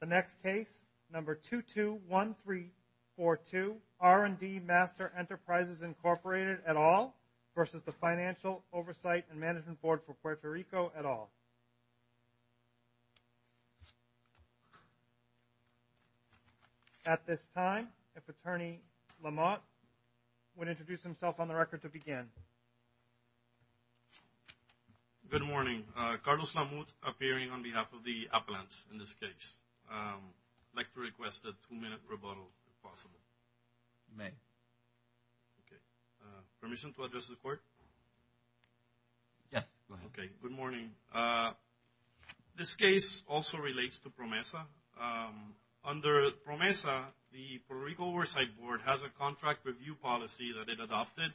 The next case, number 221342, R&D Master Enterprises, Inc., et al. v. Financial Oversight and Management Board for Puerto Rico, et al. At this time, if Attorney Lamont would introduce himself on the record to begin. Good morning. Carlos Lamont appearing on behalf of the appellants in this case. I'd like to request a two-minute rebuttal, if possible. You may. Okay. Permission to address the Court? Yes, go ahead. Okay. Good morning. This case also relates to PROMESA. Under PROMESA, the Puerto Rico Oversight Board has a contract review policy that it adopted,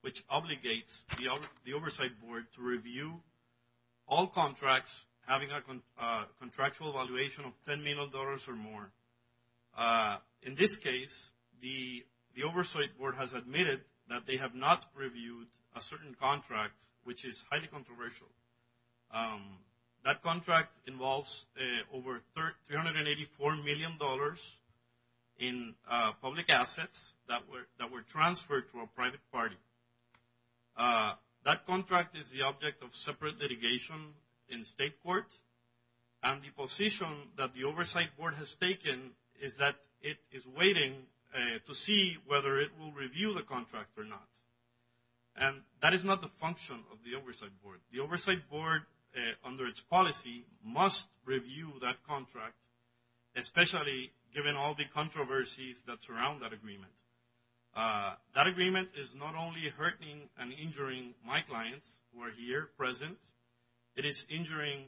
which obligates the Oversight Board to review all contracts having a contractual valuation of $10 million or more. In this case, the Oversight Board has admitted that they have not reviewed a certain contract, which is highly controversial. That contract involves over $384 million in public assets that were transferred to a private party. That contract is the object of separate litigation in state court, and the position that the Oversight Board has taken is that it is waiting to see whether it will review the contract or not. And that is not the function of the Oversight Board. The Oversight Board, under its policy, must review that contract, especially given all the controversies that surround that agreement. That agreement is not only hurting and injuring my clients who are here present, it is injuring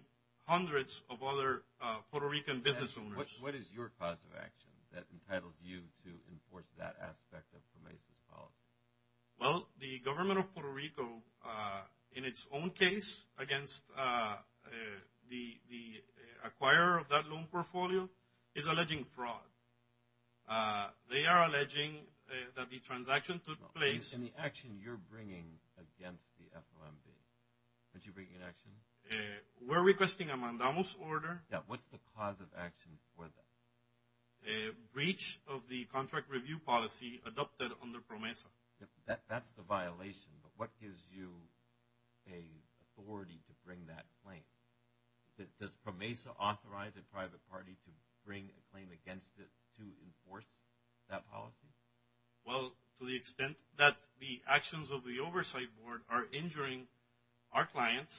hundreds of other Puerto Rican business owners. What is your cause of action that entitles you to enforce that aspect of PROMESA's policy? Well, the government of Puerto Rico, in its own case, against the acquirer of that loan portfolio, is alleging fraud. They are alleging that the transaction took place... In the action you're bringing against the FOMB, what you're bringing in action? We're requesting a mandamos order. Yeah, what's the cause of action for that? A breach of the contract review policy adopted under PROMESA. That's the violation. But what gives you an authority to bring that claim? Does PROMESA authorize a private party to bring a claim against it to enforce that policy? Well, to the extent that the actions of the Oversight Board are injuring our clients...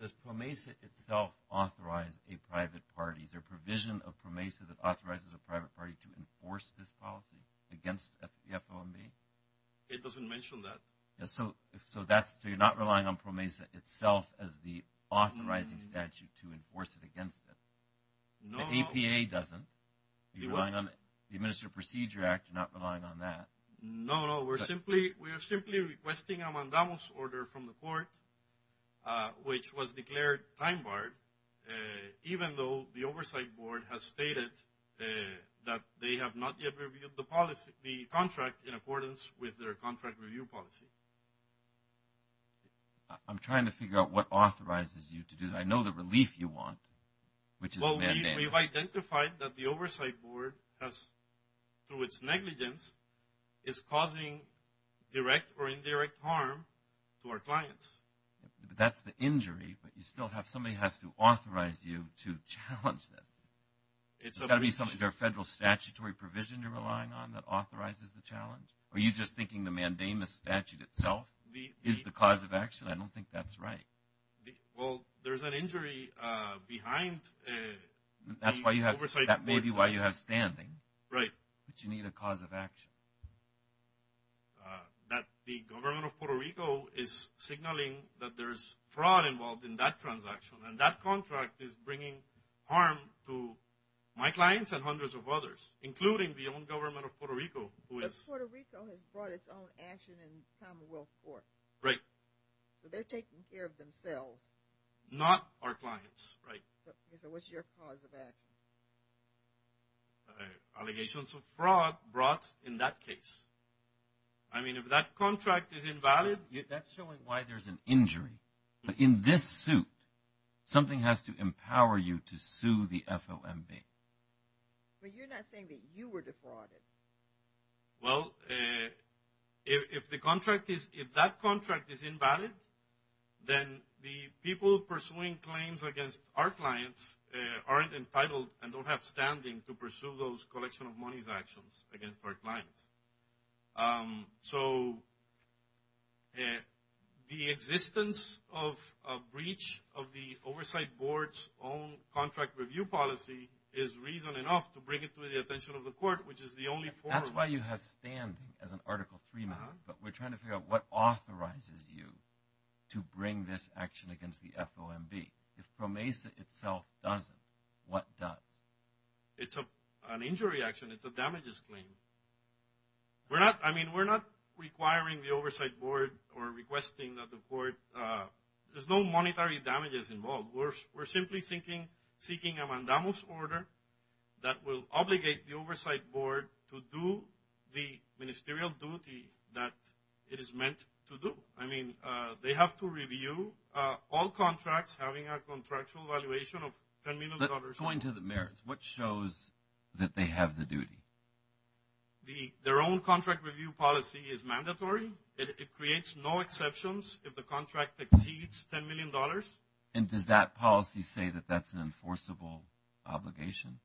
Does PROMESA itself authorize a private party? Is there a provision of PROMESA that authorizes a private party to enforce this policy against the FOMB? It doesn't mention that. So you're not relying on PROMESA itself as the authorizing statute to enforce it against it? No. The APA doesn't? You're relying on the Administrative Procedure Act, you're not relying on that? No, no. We're simply requesting a mandamos order from the court, which was declared time-barred, even though the Oversight Board has stated that they have not yet reviewed the contract in accordance with their contract review policy. I'm trying to figure out what authorizes you to do that. I know the relief you want, which is a mandate. We've identified that the Oversight Board, through its negligence, is causing direct or indirect harm to our clients. That's the injury, but somebody has to authorize you to challenge this. Is there a federal statutory provision you're relying on that authorizes the challenge? Are you just thinking the mandamos statute itself is the cause of action? I don't think that's right. Well, there's an injury behind the Oversight Board statute. That's maybe why you have standing. Right. But you need a cause of action. The government of Puerto Rico is signaling that there's fraud involved in that transaction, and that contract is bringing harm to my clients and hundreds of others, including the own government of Puerto Rico. Puerto Rico has brought its own action in Commonwealth Court. Right. So they're taking care of themselves. Not our clients, right. So what's your cause of action? Allegations of fraud brought in that case. I mean, if that contract is invalid. That's showing why there's an injury. In this suit, something has to empower you to sue the FOMB. But you're not saying that you were defrauded. Well, if that contract is invalid, then the people pursuing claims against our clients aren't entitled and don't have standing to pursue those collection of monies actions against our clients. So the existence of a breach of the Oversight Board's own contract review policy is reason enough to bring it to the attention of the court, which is the only forum. That's why you have standing as an Article III member. But we're trying to figure out what authorizes you to bring this action against the FOMB. If PROMESA itself doesn't, what does? It's an injury action. It's a damages claim. I mean, we're not requiring the Oversight Board or requesting that the court – there's no monetary damages involved. We're simply seeking a mandamus order that will obligate the Oversight Board to do the ministerial duty that it is meant to do. I mean, they have to review all contracts having a contractual valuation of $10 million. But going to the merits, what shows that they have the duty? Their own contract review policy is mandatory. It creates no exceptions if the contract exceeds $10 million. And does that policy say that that's an enforceable obligation?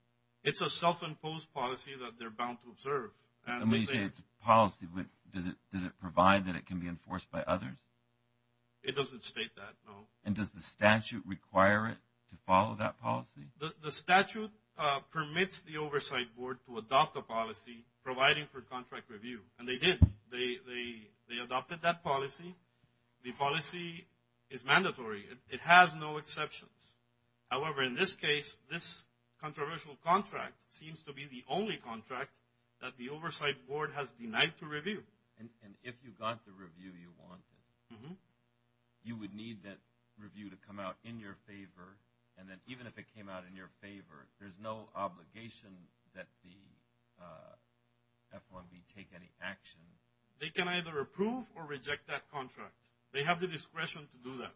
It's a self-imposed policy that they're bound to observe. And when you say it's a policy, does it provide that it can be enforced by others? It doesn't state that, no. And does the statute require it to follow that policy? The statute permits the Oversight Board to adopt a policy providing for contract review. And they did. They adopted that policy. The policy is mandatory. It has no exceptions. However, in this case, this controversial contract seems to be the only contract that the Oversight Board has denied to review. And if you got the review you wanted, you would need that review to come out in your favor. And then even if it came out in your favor, there's no obligation that the FOMB take any action. They can either approve or reject that contract. They have the discretion to do that.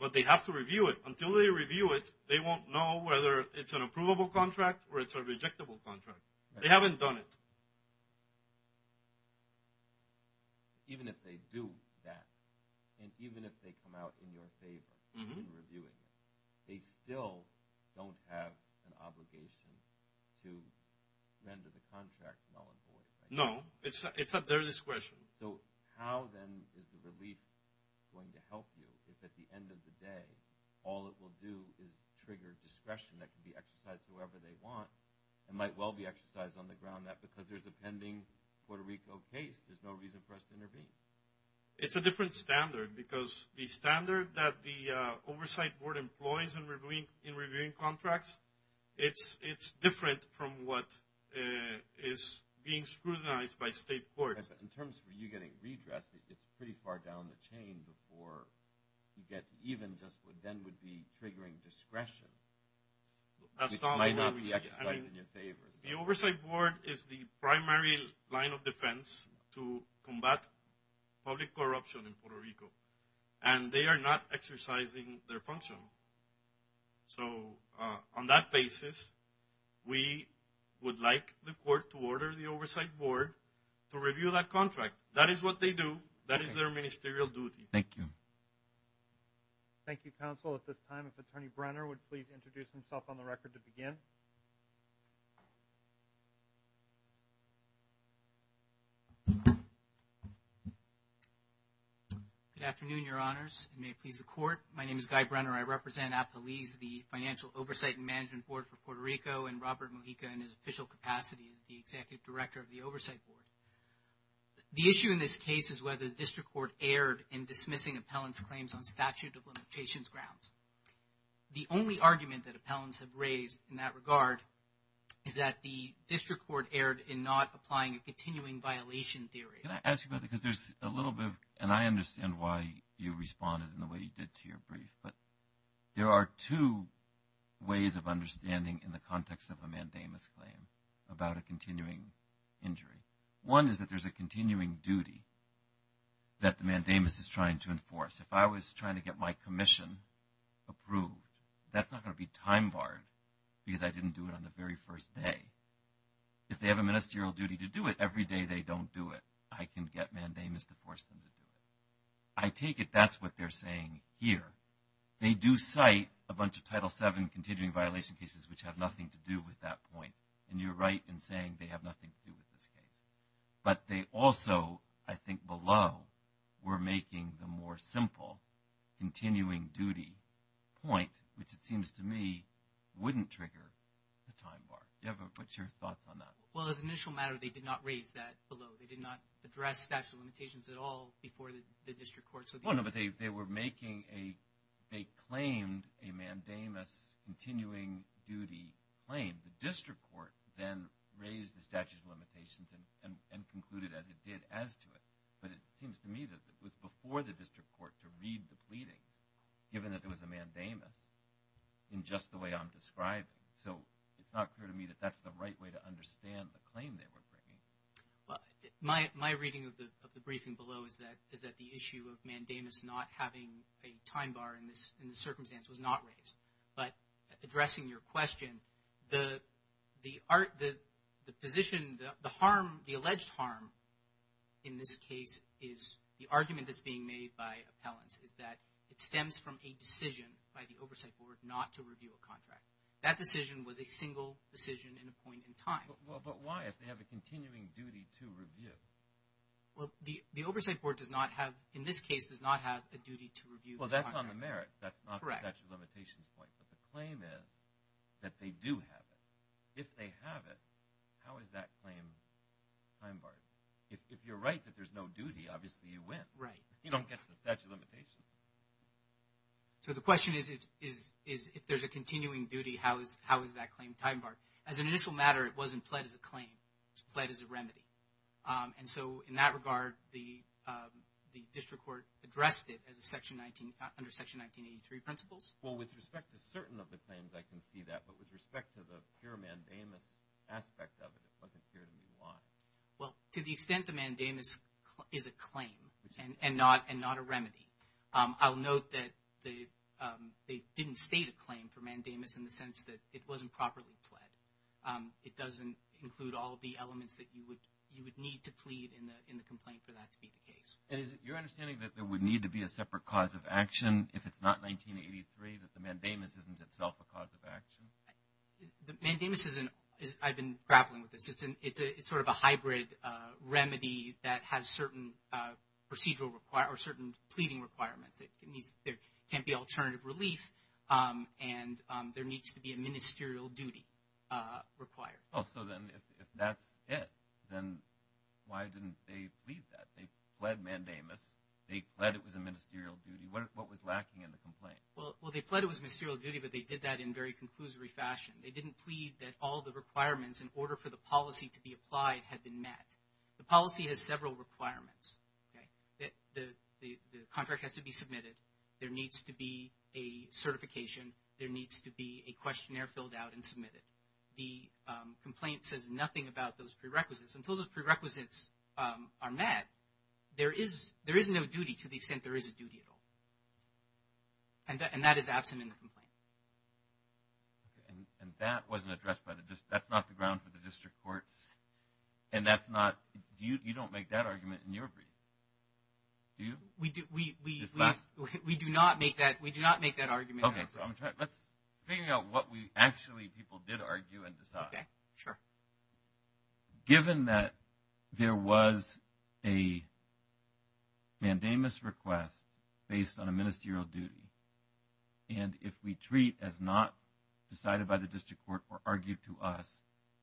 But they have to review it. Until they review it, they won't know whether it's an approvable contract or it's a rejectable contract. They haven't done it. Even if they do that, and even if they come out in your favor in reviewing it, they still don't have an obligation to render the contract null and void. No. It's at their discretion. So how, then, is the relief going to help you if at the end of the day, all it will do is trigger discretion that can be exercised whoever they want and might well be exercised on the ground that because there's a pending Puerto Rico case, there's no reason for us to intervene? It's a different standard because the standard that the Oversight Board employs in reviewing contracts, it's different from what is being scrutinized by state courts. In terms of you getting redressed, it's pretty far down the chain before you get even just what then would be triggering discretion, which might not be exercised in your favor. The Oversight Board is the primary line of defense to combat public corruption in Puerto Rico, and they are not exercising their function. So on that basis, we would like the court to order the Oversight Board to review that contract. That is what they do. That is their ministerial duty. Thank you. Thank you, Counsel. At this time, if Attorney Brenner would please introduce himself on the record to begin. Good afternoon, Your Honors, and may it please the Court. My name is Guy Brenner. I represent APALYS, the Financial Oversight and Management Board for Puerto Rico, and Robert Mojica in his official capacity is the Executive Director of the Oversight Board. The issue in this case is whether the district court erred in dismissing appellant's claims on statute of limitations grounds. The only argument that appellants have raised in that regard is that the district court erred in not applying a continuing violation theory. Can I ask you about that? Because there's a little bit of, and I understand why you responded in the way you did to your brief, but there are two ways of understanding in the context of a mandamus claim about a continuing injury. One is that there's a continuing duty that the mandamus is trying to enforce. If I was trying to get my commission approved, that's not going to be time-barred because I didn't do it on the very first day. If they have a ministerial duty to do it, every day they don't do it. I can get mandamus to force them to do it. I take it that's what they're saying here. They do cite a bunch of Title VII continuing violation cases which have nothing to do with that point, and you're right in saying they have nothing to do with this case. But they also, I think below, were making the more simple continuing duty point, which it seems to me wouldn't trigger the time-bar. What's your thoughts on that? Well, as an initial matter, they did not raise that below. They did not address statute of limitations at all before the district court. Well, no, but they were making a, they claimed a mandamus continuing duty claim. The district court then raised the statute of limitations and concluded as it did as to it. But it seems to me that it was before the district court to read the pleadings, given that there was a mandamus, in just the way I'm describing. So it's not clear to me that that's the right way to understand the claim they were bringing. My reading of the briefing below is that the issue of mandamus not having a time-bar in this circumstance was not raised. But addressing your question, the position, the harm, the alleged harm in this case is the argument that's being made by appellants is that it stems from a decision by the oversight board not to review a contract. That decision was a single decision in a point in time. But why, if they have a continuing duty to review? Well, the oversight board does not have, in this case, does not have a duty to review a contract. Well, that's on the merits. That's not the statute of limitations point. But the claim is that they do have it. If they have it, how is that claim time-barred? If you're right that there's no duty, obviously you win. You don't get the statute of limitations. So the question is, if there's a continuing duty, how is that claim time-barred? As an initial matter, it wasn't pled as a claim. It was pled as a remedy. And so in that regard, the district court addressed it under Section 1983 principles. Well, with respect to certain of the claims, I can see that. But with respect to the pure mandamus aspect of it, it wasn't clear to me why. Well, to the extent the mandamus is a claim and not a remedy. I'll note that they didn't state a claim for mandamus in the sense that it wasn't properly pled. It doesn't include all of the elements that you would need to plead in the complaint for that to be the case. And is it your understanding that there would need to be a separate cause of action if it's not 1983, that the mandamus isn't itself a cause of action? The mandamus isn't. I've been grappling with this. It's sort of a hybrid remedy that has certain pleading requirements. There can't be alternative relief, and there needs to be a ministerial duty required. Oh, so then if that's it, then why didn't they plead that? They pled mandamus. They pled it was a ministerial duty. What was lacking in the complaint? Well, they pled it was a ministerial duty, but they did that in very conclusory fashion. They didn't plead that all the requirements in order for the policy to be applied had been met. The policy has several requirements. The contract has to be submitted. There needs to be a certification. There needs to be a questionnaire filled out and submitted. The complaint says nothing about those prerequisites. Until those prerequisites are met, there is no duty to the extent there is a duty at all. And that is absent in the complaint. And that wasn't addressed by the district. That's not the ground for the district courts. And that's not – you don't make that argument in your brief, do you? We do not make that argument. Okay, so let's figure out what actually people did argue and decide. Okay, sure. Given that there was a mandamus request based on a ministerial duty, and if we treat as not decided by the district court or argue to us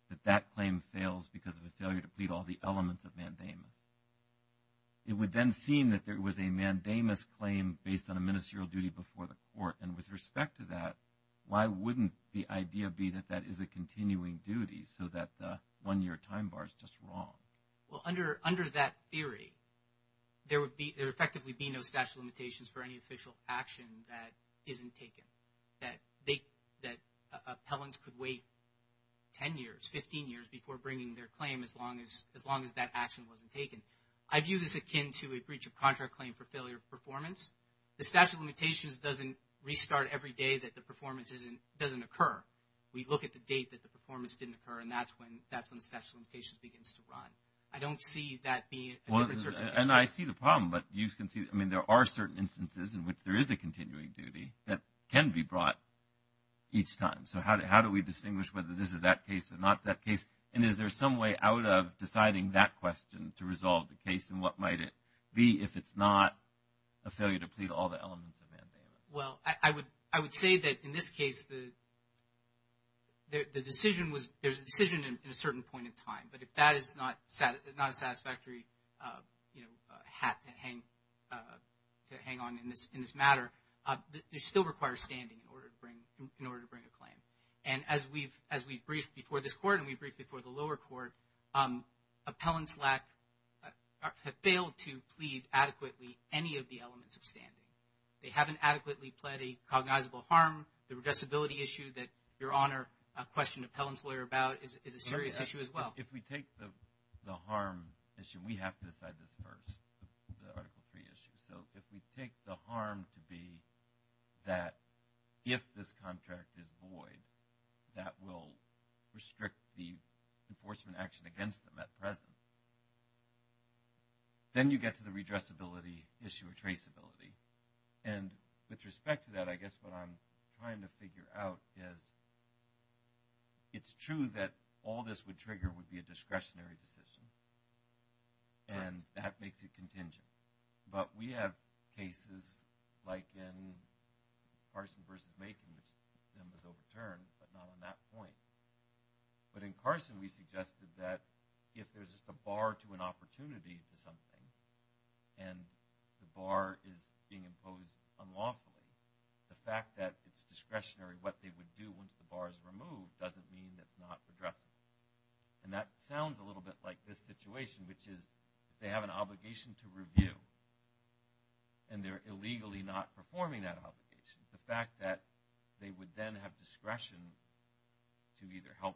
that that claim fails because of a failure to plead all the elements of mandamus, it would then seem that there was a mandamus claim based on a ministerial duty before the court. And with respect to that, why wouldn't the idea be that that is a continuing duty so that the one-year time bar is just wrong? Well, under that theory, there would effectively be no statute of limitations for any official action that isn't taken, that appellants could wait 10 years, 15 years before bringing their claim as long as that action wasn't taken. I view this akin to a breach of contract claim for failure of performance. The statute of limitations doesn't restart every day that the performance doesn't occur. We look at the date that the performance didn't occur, and that's when the statute of limitations begins to run. I don't see that being a different circumstance. And I see the problem, but you can see, I mean, there are certain instances in which there is a continuing duty that can be brought each time. So how do we distinguish whether this is that case or not that case? And is there some way out of deciding that question to resolve the case? And what might it be if it's not a failure to plead all the elements of mandamus? Well, I would say that in this case, there's a decision in a certain point in time, but if that is not a satisfactory hat to hang on in this matter, it still requires standing in order to bring a claim. And as we briefed before this Court and we briefed before the lower court, appellants have failed to plead adequately any of the elements of standing. They haven't adequately pled a cognizable harm. The redressability issue that Your Honor questioned an appellant's lawyer about is a serious issue as well. If we take the harm issue, we have to decide this first, the Article III issue. So if we take the harm to be that if this contract is void, that will restrict the enforcement action against them at present, then you get to the redressability issue or traceability. And with respect to that, I guess what I'm trying to figure out is it's true that all this would trigger would be a discretionary decision, and that makes it contingent. But we have cases like in Carson v. Macon, which then was overturned, but not on that point. But in Carson, we suggested that if there's just a bar to an opportunity for something and the bar is being imposed unlawfully, the fact that it's discretionary what they would do once the bar is removed doesn't mean it's not redressable. And that sounds a little bit like this situation, which is they have an obligation to review, and they're illegally not performing that obligation. The fact that they would then have discretion to either help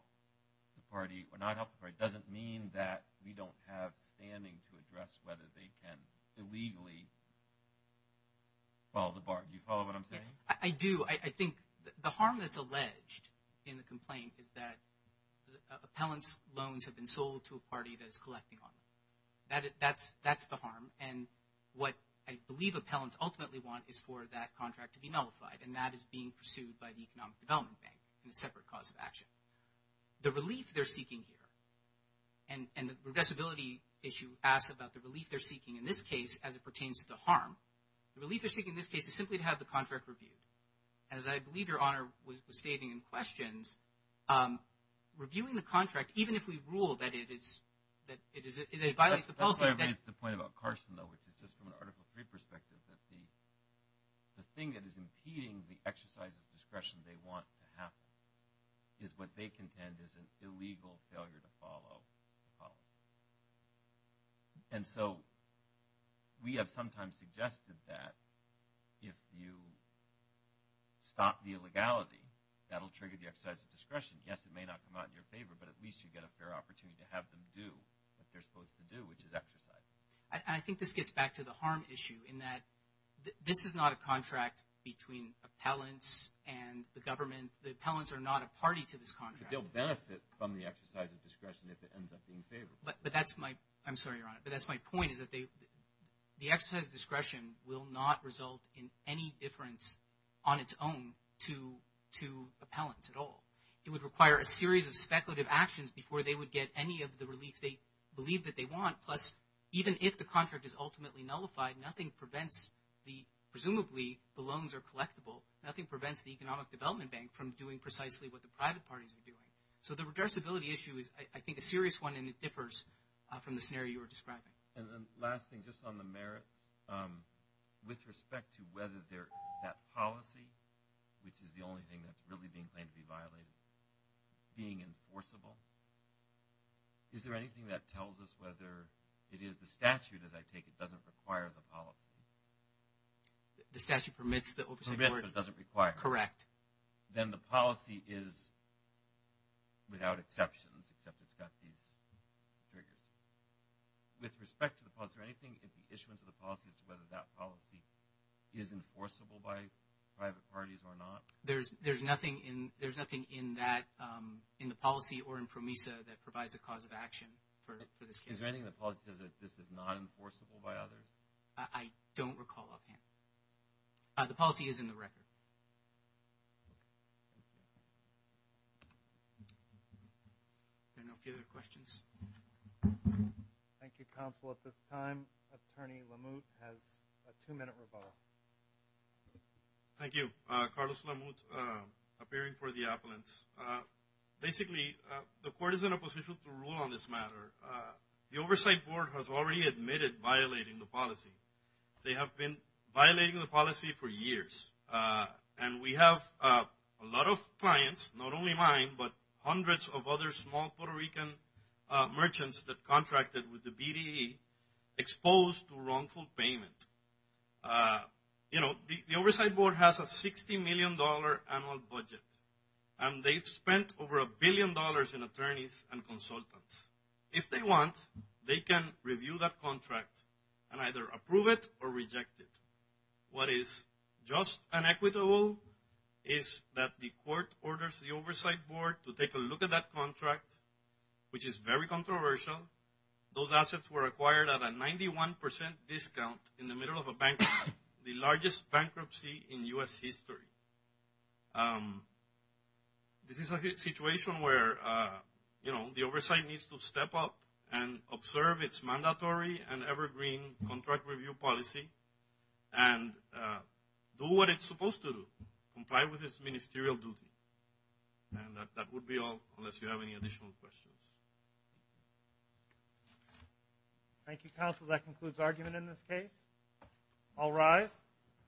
the party or not help the party doesn't mean that we don't have standing to address whether they can illegally follow the bar. Do you follow what I'm saying? I do. I think the harm that's alleged in the complaint is that appellant's loans have been sold to a party that is collecting on them. That's the harm. And what I believe appellants ultimately want is for that contract to be nullified, and that is being pursued by the Economic Development Bank in a separate cause of action. The relief they're seeking here, and the redressability issue asks about the relief they're seeking in this case as it pertains to the harm. The relief they're seeking in this case is simply to have the contract reviewed. Even if we rule that it violates the policy. That's where I raised the point about Carson, though, which is just from an Article III perspective, that the thing that is impeding the exercise of discretion they want to happen is what they contend is an illegal failure to follow the policy. And so we have sometimes suggested that if you stop the illegality, that'll trigger the exercise of discretion. Yes, it may not come out in your favor, but at least you get a fair opportunity to have them do what they're supposed to do, which is exercise. And I think this gets back to the harm issue in that this is not a contract between appellants and the government. The appellants are not a party to this contract. But they'll benefit from the exercise of discretion if it ends up being favorable. But that's my – I'm sorry, Your Honor, but that's my point is that the exercise of discretion will not result in any difference on its own to appellants at all. It would require a series of speculative actions before they would get any of the relief they believe that they want. Plus, even if the contract is ultimately nullified, nothing prevents the – presumably the loans are collectible. Nothing prevents the Economic Development Bank from doing precisely what the private parties are doing. So the reversibility issue is, I think, a serious one, and it differs from the scenario you were describing. And then last thing, just on the merits, with respect to whether that policy, which is the only thing that's really being claimed to be violated, being enforceable, is there anything that tells us whether it is the statute, as I take it, doesn't require the policy? The statute permits the oversight – Permits, but doesn't require. Correct. Then the policy is without exceptions, except it's got these triggers. With respect to the policy, is there anything in the issuance of the policy as to whether that policy is enforceable by private parties or not? There's nothing in that – in the policy or in PROMISA that provides a cause of action for this case. Is there anything in the policy that says that this is not enforceable by others? I don't recall offhand. The policy is in the record. Are there no further questions? Thank you, Counsel. At this time, Attorney LaMute has a two-minute rebuttal. Thank you. Carlos LaMute, appearing for the appellants. Basically, the court is in a position to rule on this matter. The Oversight Board has already admitted violating the policy. They have been violating the policy for years. And we have a lot of clients, not only mine, but hundreds of other small Puerto Rican merchants that contracted with the BDE exposed to wrongful payment. You know, the Oversight Board has a $60 million annual budget. And they've spent over a billion dollars in attorneys and consultants. If they want, they can review that contract and either approve it or reject it. What is just and equitable is that the court orders the Oversight Board to take a look at that contract, which is very controversial. Those assets were acquired at a 91% discount in the middle of a bankruptcy, the largest bankruptcy in U.S. history. This is a situation where, you know, the Oversight needs to step up and observe its mandatory and evergreen contract review policy and do what it's supposed to do, comply with its ministerial duty. And that would be all, unless you have any additional questions. Thank you, counsel. That concludes argument in this case. All rise.